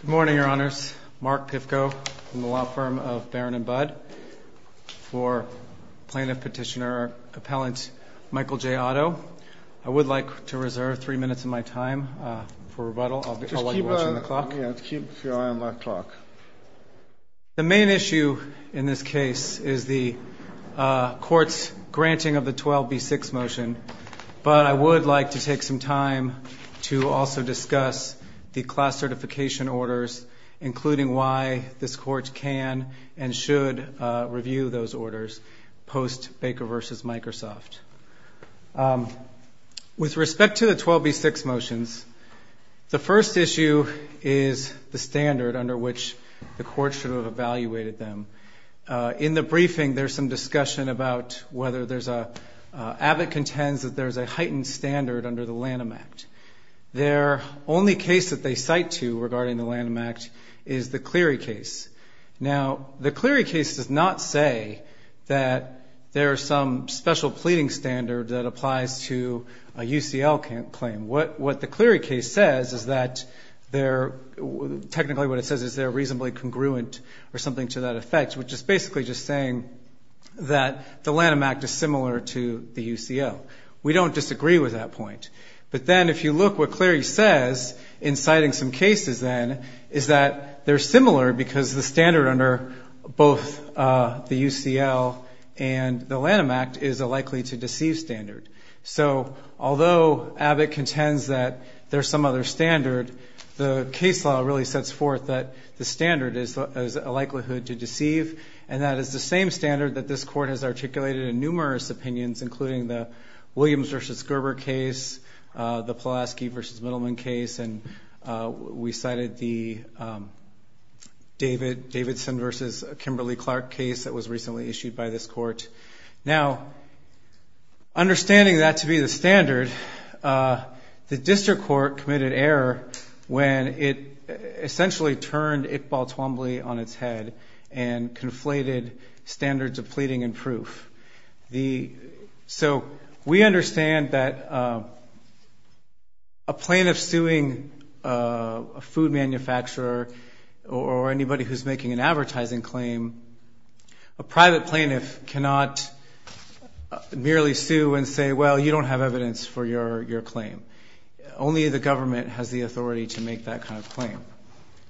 Good morning, Your Honors. Mark Pifko from the law firm of Barron & Budd for Plaintiff Petitioner Appellant Michael J. Otto. I would like to reserve three minutes of my time for rebuttal. I'll let you watch the clock. Just keep your eye on my clock. The main issue in this case is the court's granting of the 12B6 motion, but I would like to take some time to also discuss the class certification orders, including why this court can and should review those orders post-Baker v. Microsoft. With respect to the 12B6 motions, the first issue is the standard under which the court should have evaluated them. In the briefing, there's some discussion about whether there's a – Abbott contends that there's a heightened standard under the Lanham Act. Their only case that they cite to regarding the Lanham Act is the Cleary case. Now, the Cleary case does not say that there's some special pleading standard that applies to a UCL claim. What the Cleary case says is that they're – technically what it says is they're reasonably congruent or something to that effect, which is basically just saying that the Lanham Act is similar to the UCL. We don't disagree with that point. But then if you look, what Cleary says in citing some cases, then, is that they're similar because the standard under both the UCL and the Lanham Act is a likely-to-deceive standard. So although Abbott contends that there's some other standard, the case law really sets forth that the standard is a likelihood to deceive, and that is the same standard that this court has articulated in numerous opinions, including the Williams v. Gerber case, the Pulaski v. Middleman case, and we cited the Davidson v. Kimberly-Clark case that was recently issued by this court. Now, understanding that to be the standard, the district court committed error when it essentially turned Iqbal Twombly on its head and conflated standards of pleading and proof. So we understand that a plaintiff suing a food manufacturer or anybody who's making an advertising claim, a private plaintiff cannot merely sue and say, well, you don't have evidence for your claim. Only the government has the authority to make that kind of claim.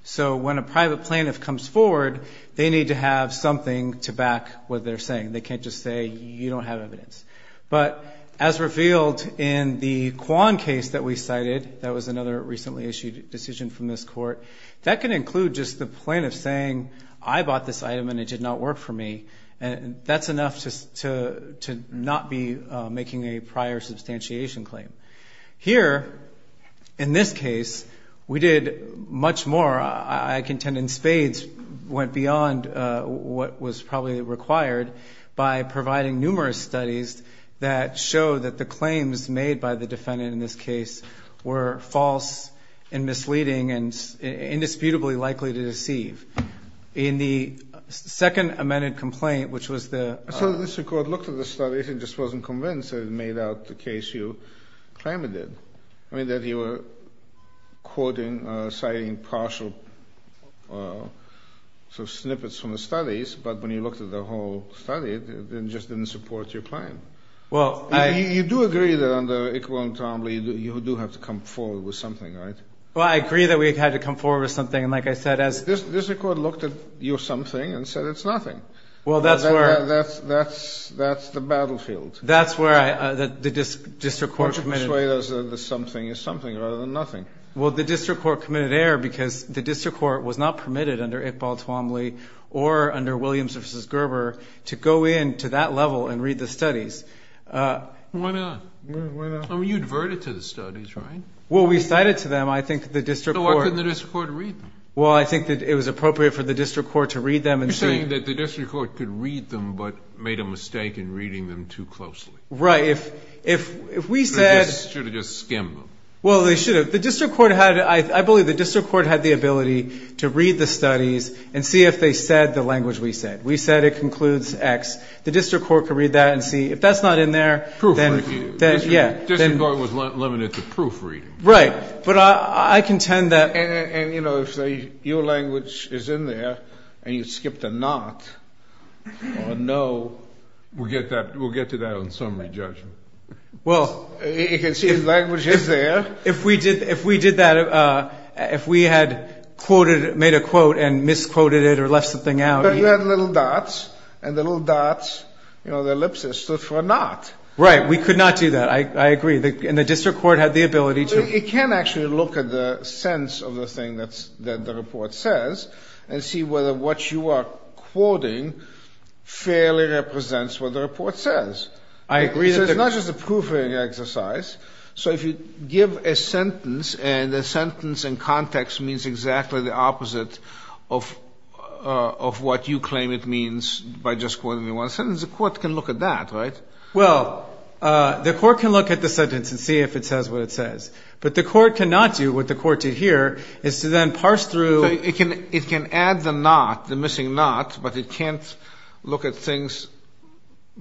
So when a private plaintiff comes forward, they need to have something to back what they're saying. They can't just say, you don't have evidence. But as revealed in the Quan case that we cited, that was another recently issued decision from this court, that can include just the plaintiff saying, I bought this item and it did not work for me, and that's enough to not be making a prior substantiation claim. Here, in this case, we did much more. I contend in spades went beyond what was probably required by providing numerous studies that show that the claims made by the defendant in this case were false and misleading and indisputably likely to deceive. In the second amended complaint, which was the ‑‑ So this court looked at the studies and just wasn't convinced that it made out the case you claim it did, that you were citing partial snippets from the studies, but when you looked at the whole study, it just didn't support your claim. You do agree that under Equal Entombly you do have to come forward with something, right? Well, I agree that we had to come forward with something, and like I said, as ‑‑ This court looked at your something and said it's nothing. Well, that's where ‑‑ That's the battlefield. That's where the district court committed. That's where the something is something rather than nothing. Well, the district court committed error because the district court was not permitted under Equal Entombly or under Williams v. Gerber to go in to that level and read the studies. Why not? Why not? I mean, you adverted to the studies, right? Well, we cited to them. I think the district court ‑‑ So why couldn't the district court read them? Well, I think that it was appropriate for the district court to read them and say ‑‑ You're saying that the district court could read them but made a mistake in reading them too closely. Right. If we said ‑‑ They should have just skimmed them. Well, they should have. The district court had ‑‑ I believe the district court had the ability to read the studies and see if they said the language we said. We said it concludes X. The district court could read that and see if that's not in there. Proofreading. Yeah. District court was limited to proofreading. Right. But I contend that ‑‑ And, you know, if your language is in there and you skipped a not or a no, we'll get to that on summary judgment. Well, if we did that, if we had made a quote and misquoted it or left something out. But you had little dots, and the little dots, you know, the ellipses, stood for a not. Right. We could not do that. I agree. And the district court had the ability to ‑‑ It can actually look at the sense of the thing that the report says and see whether what you are quoting fairly represents what the report says. I agree. It's not just a proofreading exercise. So if you give a sentence and the sentence in context means exactly the opposite of what you claim it means by just quoting one sentence, the court can look at that, right? Well, the court can look at the sentence and see if it says what it says. But the court cannot do what the court did here is to then parse through ‑‑ It can add the not, the missing not, but it can't look at things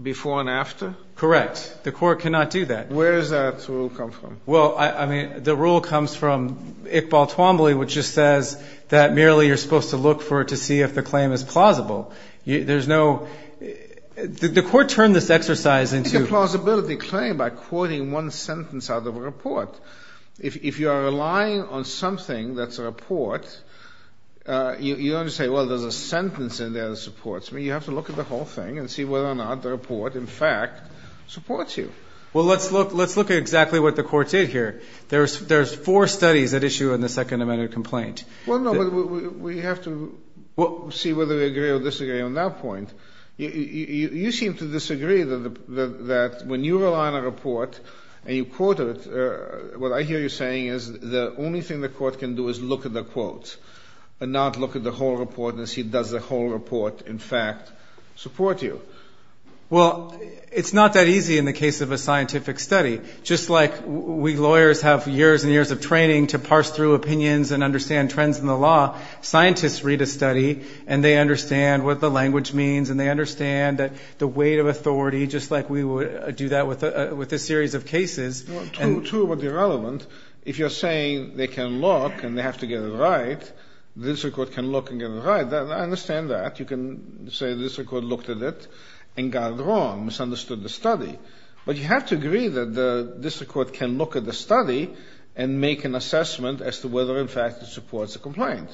before and after? Correct. The court cannot do that. Where does that rule come from? Well, I mean, the rule comes from Iqbal Twombly, which just says that merely you're supposed to look for it to see if the claim is plausible. There's no ‑‑ the court turned this exercise into ‑‑ It's a plausibility claim by quoting one sentence out of a report. If you are relying on something that's a report, you don't say, well, there's a sentence in there that supports me. You have to look at the whole thing and see whether or not the report, in fact, supports you. Well, let's look at exactly what the court did here. There's four studies at issue in the Second Amendment complaint. Well, no, but we have to see whether we agree or disagree on that point. You seem to disagree that when you rely on a report and you quote it, what I hear you saying is the only thing the court can do is look at the quote and not look at the whole report and see does the whole report, in fact, support you. Well, it's not that easy in the case of a scientific study. Just like we lawyers have years and years of training to parse through opinions and understand trends in the law, scientists read a study and they understand what the language means and they understand the weight of authority, just like we would do that with a series of cases. True, but irrelevant. If you're saying they can look and they have to get it right, the district court can look and get it right. I understand that. You can say the district court looked at it and got it wrong, misunderstood the study. But you have to agree that the district court can look at the study and make an assessment as to whether, in fact, it supports a complaint.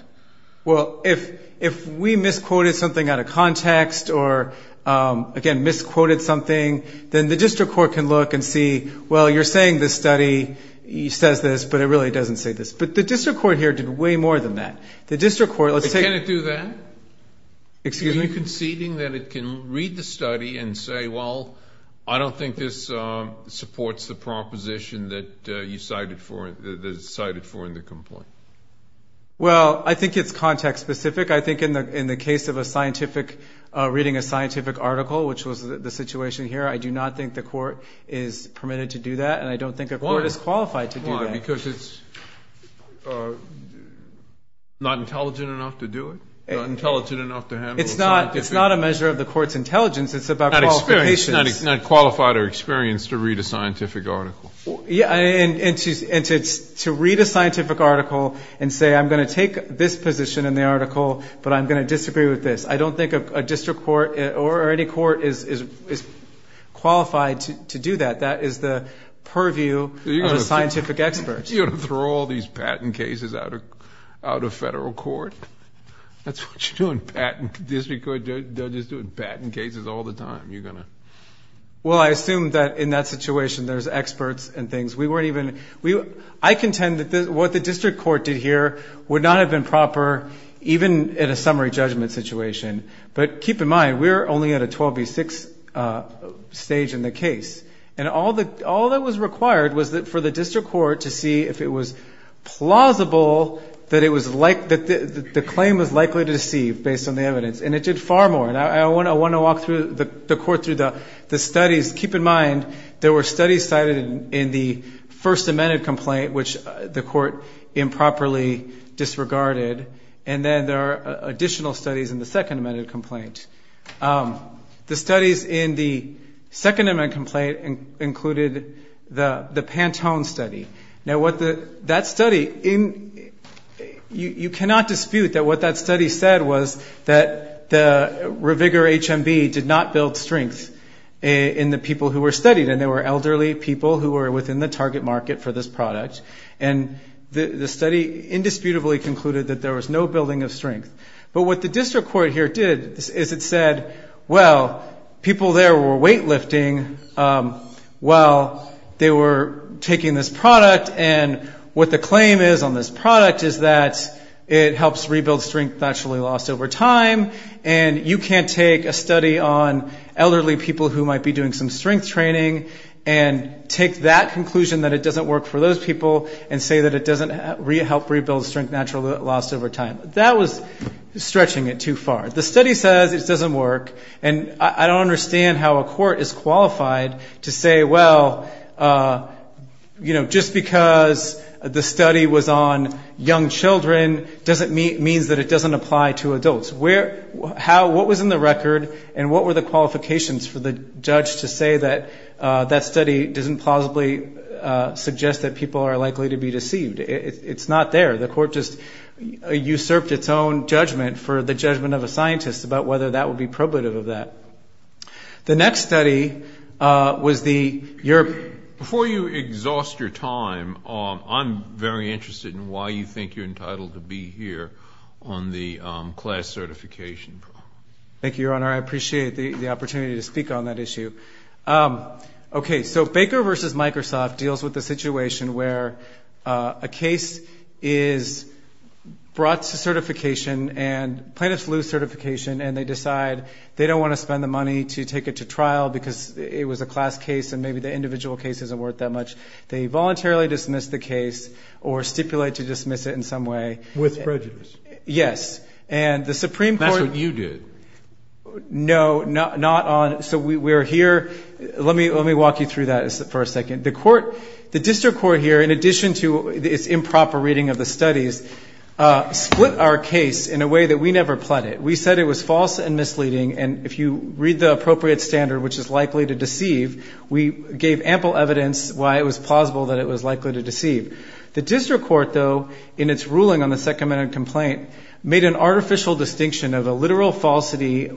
Well, if we misquoted something out of context or, again, misquoted something, then the district court can look and see, well, you're saying this study says this, but it really doesn't say this. But the district court here did way more than that. The district court, let's say – Can it do that? Excuse me? Are you conceding that it can read the study and say, well, I don't think this supports the proposition that you cited for in the complaint? Well, I think it's context specific. I think in the case of a scientific – reading a scientific article, which was the situation here, I do not think the court is permitted to do that and I don't think a court is qualified to do that. Why? Because it's not intelligent enough to do it? It's not a measure of the court's intelligence. It's about qualifications. Not qualified or experienced to read a scientific article. Yeah, and to read a scientific article and say, I'm going to take this position in the article, but I'm going to disagree with this. I don't think a district court or any court is qualified to do that. That is the purview of a scientific expert. Are you going to throw all these patent cases out of federal court? That's what you do in patent – district court judges do in patent cases all the time. You're going to – Well, I assume that in that situation, there's experts and things. We weren't even – I contend that what the district court did here would not have been proper even in a summary judgment situation. But keep in mind, we're only at a 12B6 stage in the case. And all that was required was for the district court to see if it was plausible that the claim was likely to deceive based on the evidence. And it did far more. I want to walk the court through the studies. Keep in mind, there were studies cited in the First Amendment complaint, which the court improperly disregarded. And then there are additional studies in the Second Amendment complaint. The studies in the Second Amendment complaint included the Pantone study. Now, what the – that study – you cannot dispute that what that study said was that the ReVigor HMB did not build strength in the people who were studied. And they were elderly people who were within the target market for this product. And the study indisputably concluded that there was no building of strength. But what the district court here did is it said, well, people there were weightlifting while they were taking this product. And what the claim is on this product is that it helps rebuild strength naturally lost over time. And you can't take a study on elderly people who might be doing some strength training and take that conclusion that it doesn't work for those people and say that it doesn't help rebuild strength naturally lost over time. That was stretching it too far. The study says it doesn't work. And I don't understand how a court is qualified to say, well, you know, just because the study was on young children doesn't mean – means that it doesn't apply to adults. How – what was in the record and what were the qualifications for the judge to say that that study doesn't plausibly suggest that people are likely to be deceived? It's not there. The court just usurped its own judgment for the judgment of a scientist about whether that would be probative of that. The next study was the – Before you exhaust your time, I'm very interested in why you think you're entitled to be here on the class certification. Thank you, Your Honor. I appreciate the opportunity to speak on that issue. Okay, so Baker v. Microsoft deals with the situation where a case is brought to certification and plaintiffs lose certification and they decide they don't want to spend the money to take it to trial because it was a class case and maybe the individual case isn't worth that much. They voluntarily dismiss the case or stipulate to dismiss it in some way. With prejudice. Yes. And the Supreme Court – That's what you did. No, not on – so we're here – let me walk you through that for a second. The court – the district court here, in addition to its improper reading of the studies, split our case in a way that we never pled it. We said it was false and misleading, and if you read the appropriate standard, which is likely to deceive, we gave ample evidence why it was plausible that it was likely to deceive. The district court, though, in its ruling on the second-minute complaint, made an artificial distinction of a literal falsity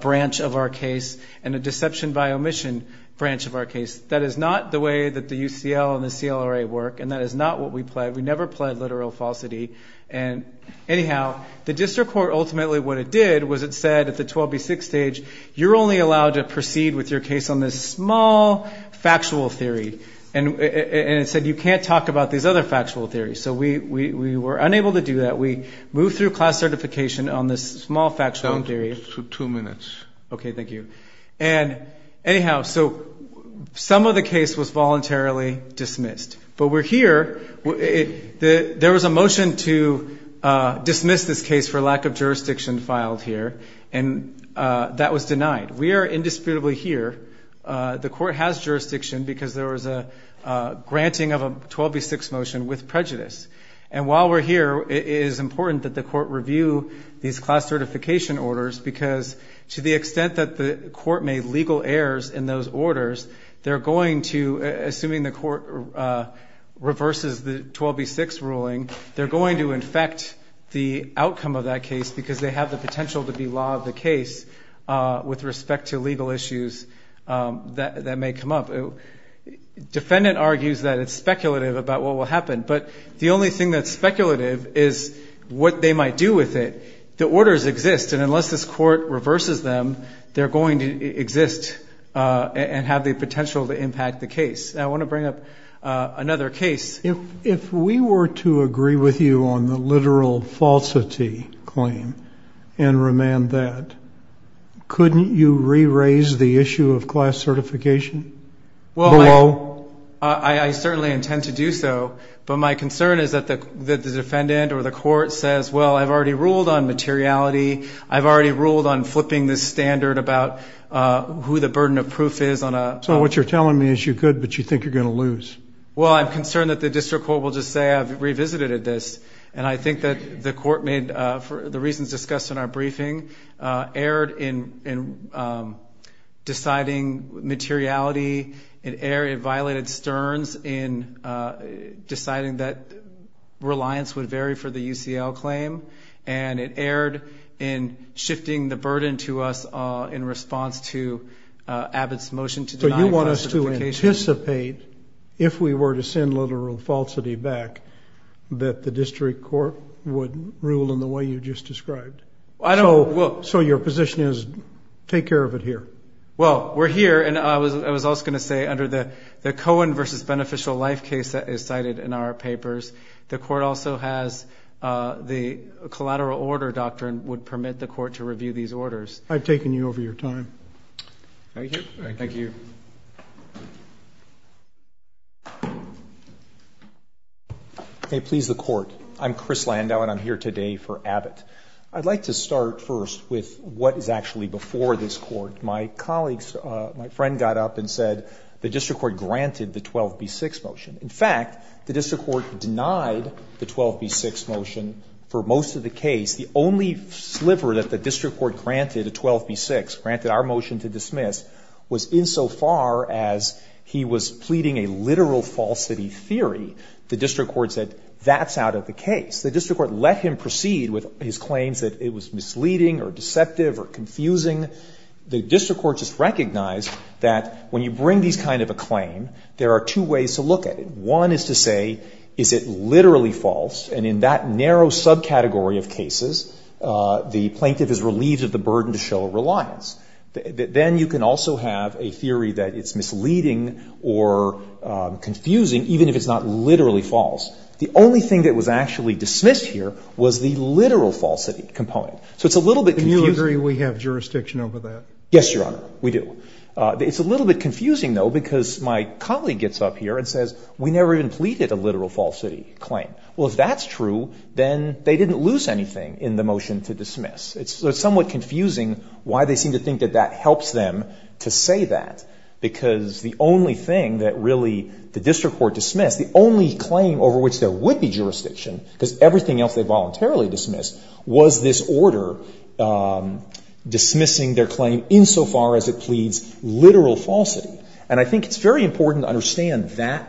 branch of our case and a deception by omission branch of our case. That is not the way that the UCL and the CLRA work, and that is not what we pled. We never pled literal falsity. Anyhow, the district court ultimately what it did was it said at the 12B6 stage, you're only allowed to proceed with your case on this small factual theory. And it said you can't talk about these other factual theories. So we were unable to do that. We moved through class certification on this small factual theory. Down to two minutes. Okay, thank you. Anyhow, so some of the case was voluntarily dismissed. But we're here. There was a motion to dismiss this case for lack of jurisdiction filed here, and that was denied. We are indisputably here. The court has jurisdiction because there was a granting of a 12B6 motion with prejudice. And while we're here, it is important that the court review these class certification orders because to the extent that the court made legal errors in those orders, they're going to, assuming the court reverses the 12B6 ruling, they're going to infect the outcome of that case because they have the potential to be law of the case with respect to legal issues that may come up. Defendant argues that it's speculative about what will happen. But the only thing that's speculative is what they might do with it. The orders exist, and unless this court reverses them, they're going to exist and have the potential to impact the case. I want to bring up another case. If we were to agree with you on the literal falsity claim and remand that, couldn't you re-raise the issue of class certification below? I certainly intend to do so. But my concern is that the defendant or the court says, well, I've already ruled on materiality. I've already ruled on flipping the standard about who the burden of proof is. So what you're telling me is you could, but you think you're going to lose. Well, I'm concerned that the district court will just say I've revisited this. And I think that the court made, for the reasons discussed in our briefing, erred in deciding materiality. It violated Stern's in deciding that reliance would vary for the UCL claim. And it erred in shifting the burden to us in response to Abbott's motion to deny class certification. I would anticipate, if we were to send literal falsity back, that the district court would rule in the way you just described. So your position is take care of it here. Well, we're here. And I was also going to say under the Cohen v. Beneficial Life case that is cited in our papers, the court also has the collateral order doctrine would permit the court to review these orders. I've taken you over your time. Thank you. May it please the Court. I'm Chris Landau, and I'm here today for Abbott. I'd like to start first with what is actually before this Court. My colleagues, my friend got up and said the district court granted the 12b-6 motion. In fact, the district court denied the 12b-6 motion for most of the case. The only sliver that the district court granted a 12b-6, granted our motion to dismiss, was insofar as he was pleading a literal falsity theory. The district court said that's out of the case. The district court let him proceed with his claims that it was misleading or deceptive or confusing. The district court just recognized that when you bring these kind of a claim, there are two ways to look at it. One is to say, is it literally false? And in that narrow subcategory of cases, the plaintiff is relieved of the burden to show a reliance. Then you can also have a theory that it's misleading or confusing, even if it's not literally false. The only thing that was actually dismissed here was the literal falsity component. So it's a little bit confusing. Do you agree we have jurisdiction over that? Yes, Your Honor, we do. It's a little bit confusing, though, because my colleague gets up here and says, we never even pleaded a literal falsity claim. Well, if that's true, then they didn't lose anything in the motion to dismiss. It's somewhat confusing why they seem to think that that helps them to say that, because the only thing that really the district court dismissed, the only claim over which there would be jurisdiction, because everything else they voluntarily dismissed, was this order dismissing their claim insofar as it pleads literal falsity. And I think it's very important to understand that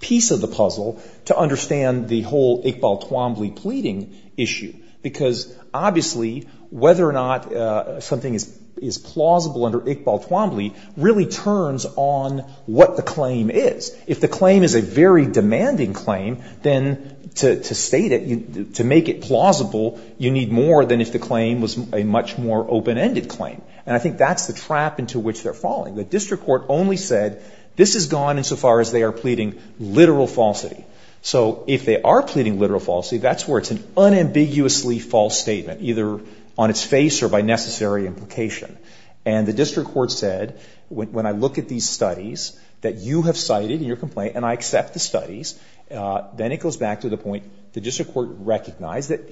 piece of the puzzle, to understand the whole Iqbal Twombly pleading issue, because obviously whether or not something is plausible under Iqbal Twombly really turns on what the claim is. If the claim is a very demanding claim, then to state it, to make it plausible, you need more than if the claim was a much more open-ended claim. And I think that's the trap into which they're falling. The district court only said, this has gone insofar as they are pleading literal falsity. So if they are pleading literal falsity, that's where it's an unambiguously false statement, either on its face or by necessary implication. And the district court said, when I look at these studies that you have cited in your complaint and I accept the studies, then it goes back to the point the district court recognized that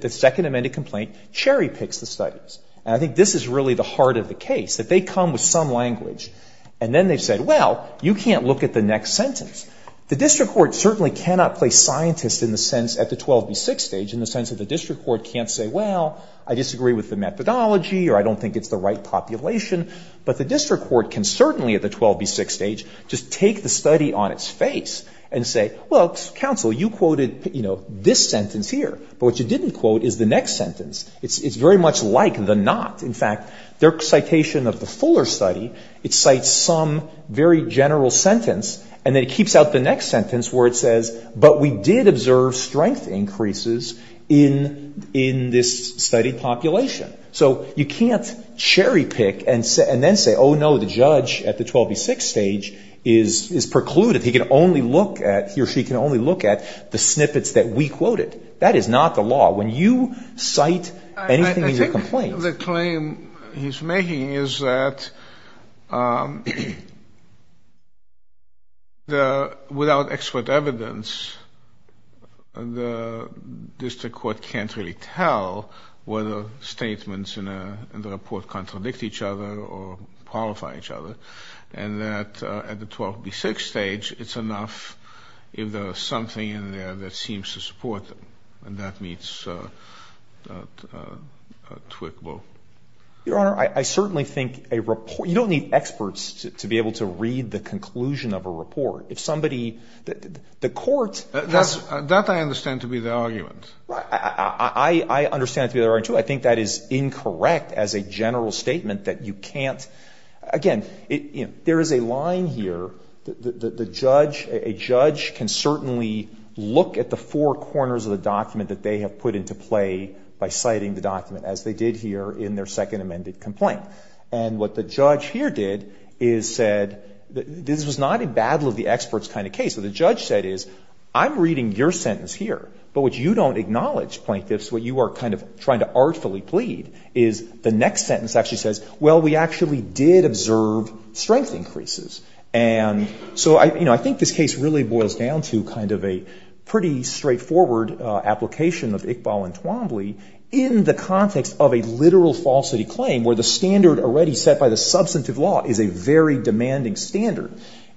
the Second Amendment complaint cherry-picks the studies. And I think this is really the heart of the case, that they come with some language and then they've said, well, you can't look at the next sentence. The district court certainly cannot play scientist in the sense at the 12b6 stage, in the sense that the district court can't say, well, I disagree with the methodology or I don't think it's the right population. But the district court can certainly at the 12b6 stage just take the study on its face and say, well, counsel, you quoted, you know, this sentence here. But what you didn't quote is the next sentence. It's very much like the not. In fact, their citation of the Fuller study, it cites some very general sentence and then it keeps out the next sentence where it says, but we did observe strength increases in this study population. So you can't cherry-pick and then say, oh, no, the judge at the 12b6 stage is precluded. He can only look at, he or she can only look at the snippets that we quoted. That is not the law. When you cite anything in your complaint. I think the claim he's making is that without expert evidence, the district court can't really tell whether statements in the report contradict each other or qualify each other and that at the 12b6 stage, it's enough if there's something in there that seems to support them. And that meets Twitwell. Your Honor, I certainly think a report, you don't need experts to be able to read the conclusion of a report. If somebody, the court has. That I understand to be the argument. I understand it to be the argument, too. I think that is incorrect as a general statement that you can't. Again, there is a line here. The judge, a judge can certainly look at the four corners of the document that they have put into play by citing the document as they did here in their second amended complaint. And what the judge here did is said, this was not a battle of the experts kind of case. What the judge said is, I'm reading your sentence here. But what you don't acknowledge, Plaintiffs, what you are kind of trying to artfully plead is the next sentence actually says, well, we actually did observe strength increases. And so I think this case really boils down to kind of a pretty straightforward application of Iqbal and Twombly in the context of a literal falsity claim where the standard already set by the substantive law is a very demanding standard.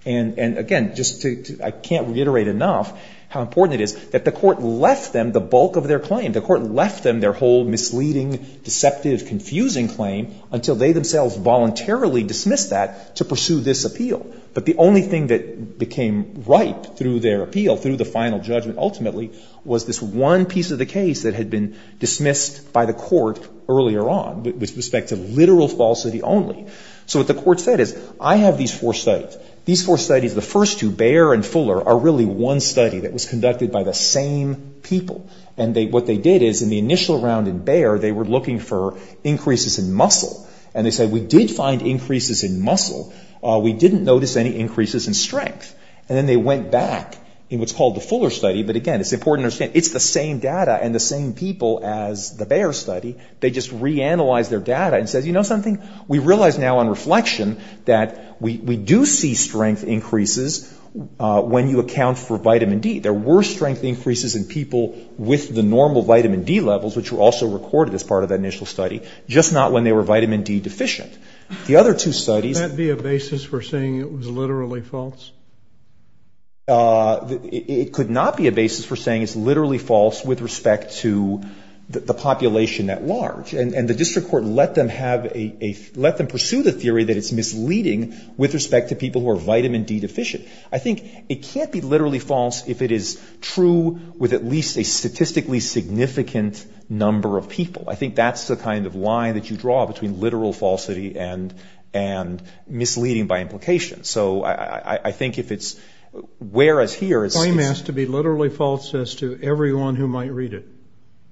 And again, just to, I can't reiterate enough how important it is that the court left them the bulk of their claim. The court left them their whole misleading, deceptive, confusing claim until they themselves voluntarily dismissed that to pursue this appeal. But the only thing that became ripe through their appeal, through the final judgment ultimately, was this one piece of the case that had been dismissed by the court earlier on with respect to literal falsity only. So what the court said is, I have these four studies. These four studies, the first two, Bayer and Fuller are really one study that was conducted by the same people. And what they did is, in the initial round in Bayer, they were looking for increases in muscle. And they said, we did find increases in muscle. We didn't notice any increases in strength. And then they went back in what's called the Fuller study. But again, it's important to understand, it's the same data and the same people as the Bayer study. They just reanalyzed their data and said, you know something? We realize now on reflection that we do see strength increases when you account for vitamin D. There were strength increases in people with the normal vitamin D levels, which were also recorded as part of that initial study, just not when they were vitamin D deficient. The other two studies ‑‑ Can that be a basis for saying it was literally false? It could not be a basis for saying it's literally false with respect to the population at large. And the district court let them have a ‑‑ let them pursue the theory that it's misleading with respect to people who are vitamin D deficient. I think it can't be literally false if it is true with at least a statistically significant number of people. I think that's the kind of line that you draw between literal falsity and misleading by implication. So I think if it's ‑‑ whereas here it's ‑‑ Claim has to be literally false as to everyone who might read it.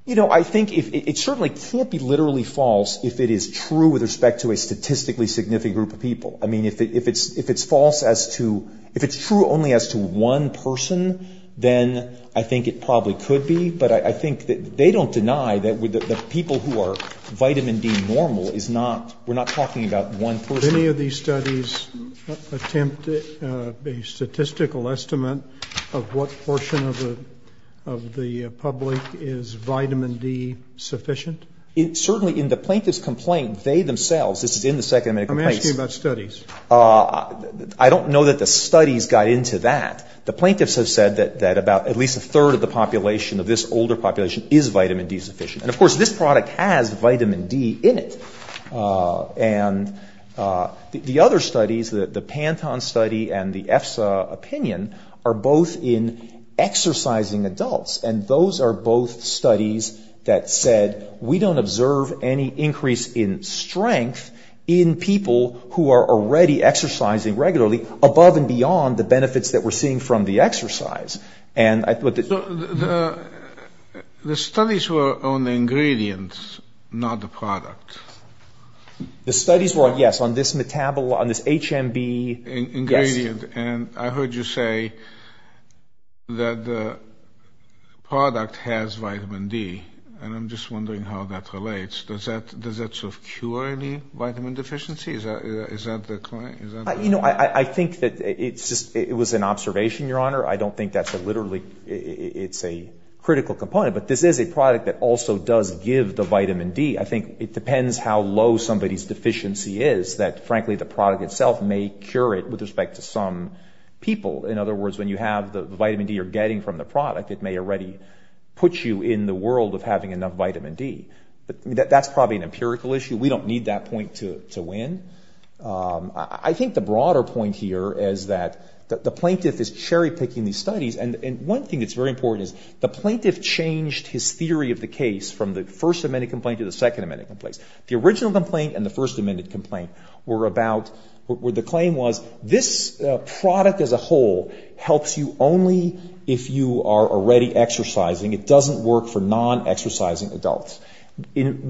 You know, I think it certainly can't be literally false if it is true with respect to a statistically significant group of people. I mean, if it's false as to ‑‑ if it's true only as to one person, then I think it probably could be. But I think that they don't deny that the people who are vitamin D normal is not ‑‑ we're not talking about one person. Did any of these studies attempt a statistical estimate of what portion of the public is vitamin D sufficient? Certainly in the plaintiff's complaint, they themselves, this is in the second medical case. Let me ask you about studies. I don't know that the studies got into that. The plaintiffs have said that about at least a third of the population, of this older population, is vitamin D sufficient. And, of course, this product has vitamin D in it. And the other studies, the Panton study and the EFSA opinion, are both in exercising adults. And those are both studies that said we don't observe any increase in strength in people who are already exercising regularly above and beyond the benefits that we're seeing from the exercise. The studies were on the ingredients, not the product. The studies were, yes, on this HMB. Ingredient. And I heard you say that the product has vitamin D, and I'm just wondering how that relates. Does that sort of cure any vitamin deficiency? Is that the claim? You know, I think that it was an observation, Your Honor. I don't think that's literally a critical component. But this is a product that also does give the vitamin D. I think it depends how low somebody's deficiency is, that, frankly, the product itself may cure it with respect to some people. In other words, when you have the vitamin D you're getting from the product, it may already put you in the world of having enough vitamin D. That's probably an empirical issue. We don't need that point to win. I think the broader point here is that the plaintiff is cherry-picking these studies. And one thing that's very important is the plaintiff changed his theory of the case from the First Amendment complaint to the Second Amendment complaint. The original complaint and the First Amendment complaint were about, the claim was this product as a whole helps you only if you are already exercising. It doesn't work for non-exercising adults. In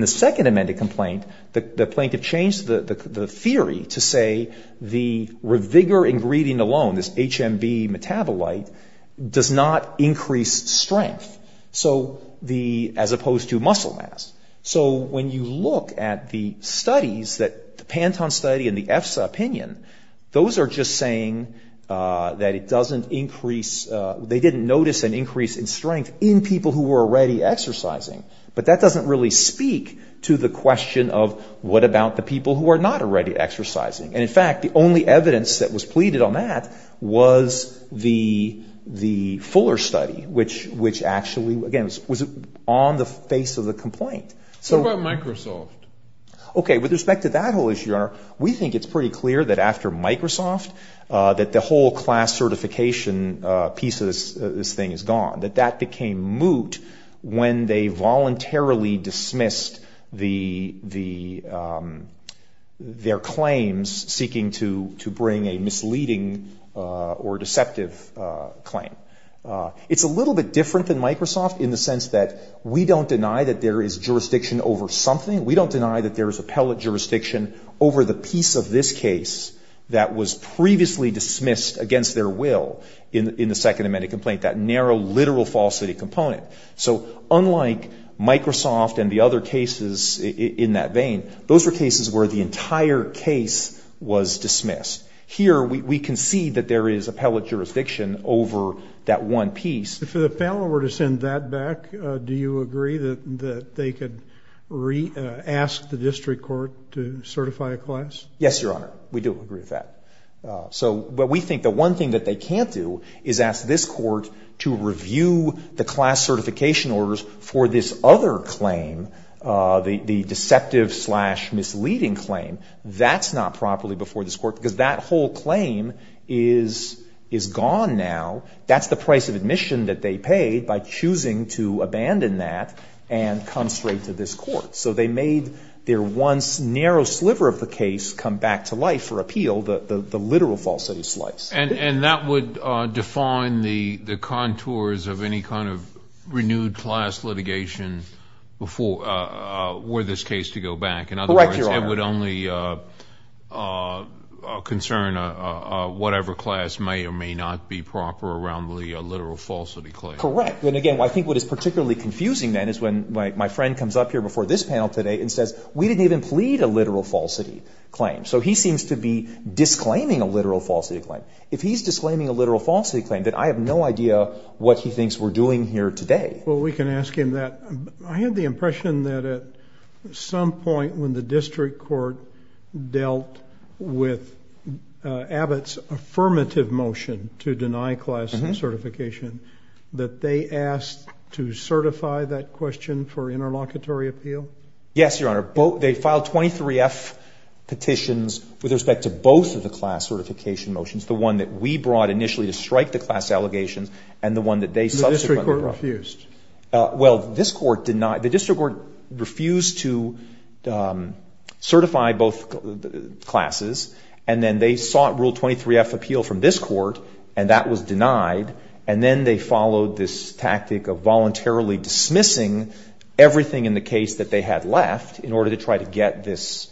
the Second Amendment complaint, the plaintiff changed the theory to say the Revigor ingredient alone, this HMB metabolite, does not increase strength, as opposed to muscle mass. So when you look at the studies, the Panton study and the EFSA opinion, those are just saying that it doesn't increase, they didn't notice an increase in strength in people who were already exercising. But that doesn't really speak to the question of what about the people who are not already exercising. And, in fact, the only evidence that was pleaded on that was the Fuller study, which actually, again, was on the face of the complaint. What about Microsoft? Okay, with respect to that whole issue, Your Honor, we think it's pretty clear that after Microsoft, that the whole class certification piece of this thing is gone, that that became moot when they voluntarily dismissed their claims seeking to bring a misleading or deceptive claim. It's a little bit different than Microsoft in the sense that we don't deny that there is jurisdiction over something, we don't deny that there is appellate jurisdiction over the piece of this case that was previously dismissed against their will in the Second Amendment complaint, that narrow, literal falsity component. So unlike Microsoft and the other cases in that vein, those were cases where the entire case was dismissed. Here we can see that there is appellate jurisdiction over that one piece. If the panel were to send that back, do you agree that they could ask the district court to certify a class? Yes, Your Honor. We do agree with that. But we think the one thing that they can't do is ask this court to review the class certification orders for this other claim, the deceptive-slash-misleading claim. That's not properly before this court because that whole claim is gone now. That's the price of admission that they paid by choosing to abandon that and come straight to this court. So they made their once narrow sliver of the case come back to life for appeal, the literal falsity slice. And that would define the contours of any kind of renewed class litigation were this case to go back. Correct, Your Honor. It would only concern whatever class may or may not be proper around the literal falsity claim. Correct. And, again, I think what is particularly confusing, then, is when my friend comes up here before this panel today and says, we didn't even plead a literal falsity claim. So he seems to be disclaiming a literal falsity claim. If he's disclaiming a literal falsity claim, then I have no idea what he thinks we're doing here today. Well, we can ask him that. I have the impression that at some point when the district court dealt with Abbott's affirmative motion to deny class certification, that they asked to certify that question for interlocutory appeal? Yes, Your Honor. They filed 23-F petitions with respect to both of the class certification motions, the one that we brought initially to strike the class allegations and the one that they subsequently brought. The district court refused? Well, this court did not. The district court refused to certify both classes, and then they sought Rule 23-F appeal from this court, and that was denied. And then they followed this tactic of voluntarily dismissing everything in the case that they had left in order to try to get this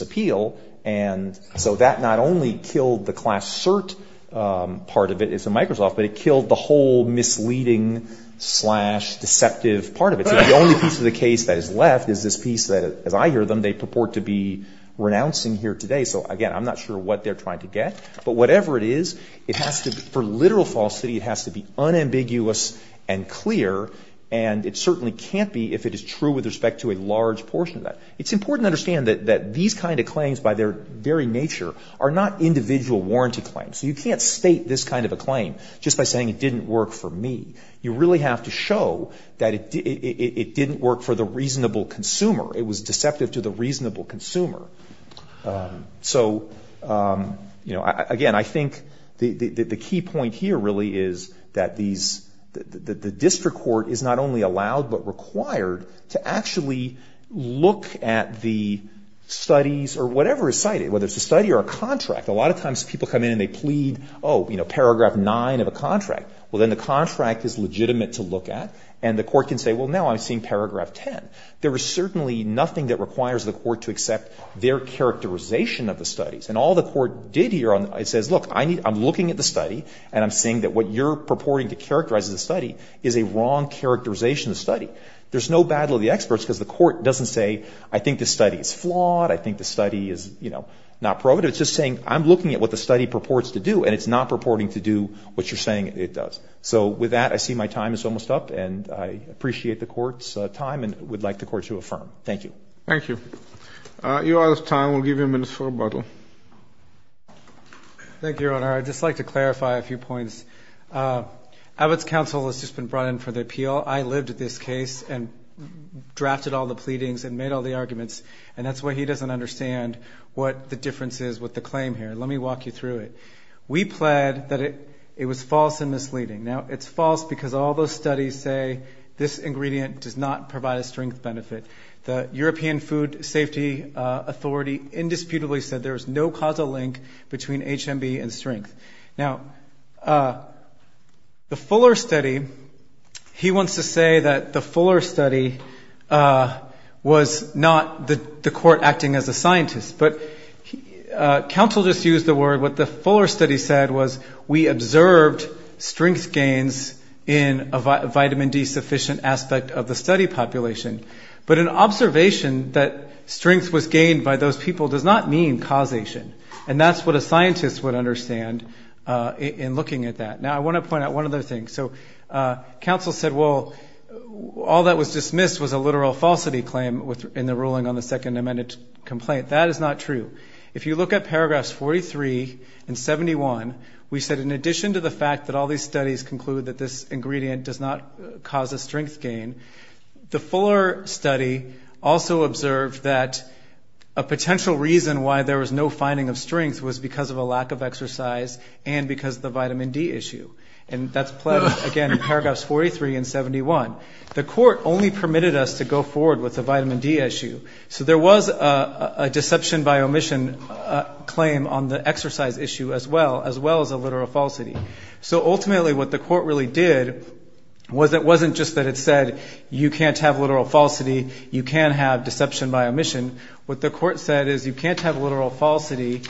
appeal. And so that not only killed the class cert part of it, it's a Microsoft, but it killed the whole misleading slash deceptive part of it. So the only piece of the case that is left is this piece that, as I hear them, they purport to be renouncing here today. So, again, I'm not sure what they're trying to get. But whatever it is, it has to be, for literal falsity, it has to be unambiguous and clear, and it certainly can't be if it is true with respect to a large portion of that. It's important to understand that these kind of claims by their very nature are not individual warranty claims. So you can't state this kind of a claim just by saying it didn't work for me. You really have to show that it didn't work for the reasonable consumer. It was deceptive to the reasonable consumer. So, again, I think the key point here really is that the district court is not only allowed but required to actually look at the studies or whatever is cited, whether it's a study or a contract. A lot of times people come in and they plead, oh, paragraph 9 of a contract. Well, then the contract is legitimate to look at, and the court can say, well, now I'm seeing paragraph 10. There is certainly nothing that requires the court to accept their characterization of the studies. And all the court did here, it says, look, I'm looking at the study and I'm seeing that what you're purporting to characterize as a study is a wrong characterization of the study. There's no battle of the experts because the court doesn't say, I think this study is flawed, I think this study is not probative. It's just saying, I'm looking at what the study purports to do, and it's not purporting to do what you're saying it does. So with that, I see my time is almost up, and I appreciate the court's time and would like the court to affirm. Thank you. Thank you. You are out of time. We'll give you a minute for rebuttal. Thank you, Your Honor. I'd just like to clarify a few points. Abbott's counsel has just been brought in for the appeal. I lived this case and drafted all the pleadings and made all the arguments, and that's why he doesn't understand what the difference is with the claim here. Let me walk you through it. We plead that it was false and misleading. Now, it's false because all those studies say this ingredient does not provide a strength benefit. The European Food Safety Authority indisputably said there is no causal link between HMB and strength. Now, the Fuller study, he wants to say that the Fuller study was not the court acting as a scientist, but counsel just used the word. What the Fuller study said was we observed strength gains in a vitamin D sufficient aspect of the study population, but an observation that strength was gained by those people does not mean causation, and that's what a scientist would understand in looking at that. Now, I want to point out one other thing. So counsel said, well, all that was dismissed was a literal falsity claim in the ruling on the second amended complaint. That is not true. If you look at paragraphs 43 and 71, we said in addition to the fact that all these studies conclude that this ingredient does not cause a strength gain, the Fuller study also observed that a potential reason why there was no finding of strength was because of a lack of exercise and because of the vitamin D issue. And that's pledged, again, in paragraphs 43 and 71. The court only permitted us to go forward with the vitamin D issue. So there was a deception by omission claim on the exercise issue as well, as well as a literal falsity. So ultimately what the court really did was it wasn't just that it said you can't have literal falsity, you can have deception by omission. What the court said is you can't have literal falsity,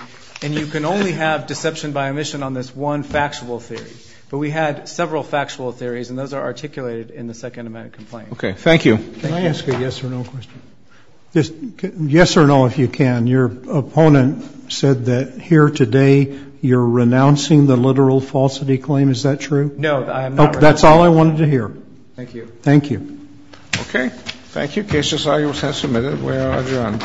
and you can only have deception by omission on this one factual theory. But we had several factual theories, and those are articulated in the second amended complaint. Okay, thank you. Can I ask a yes or no question? Yes or no if you can. Your opponent said that here today you're renouncing the literal falsity claim. Is that true? No, I am not. That's all I wanted to hear. Thank you. Thank you. Okay. Thank you. The case is now submitted. We are adjourned. All rise. This court is adjourned.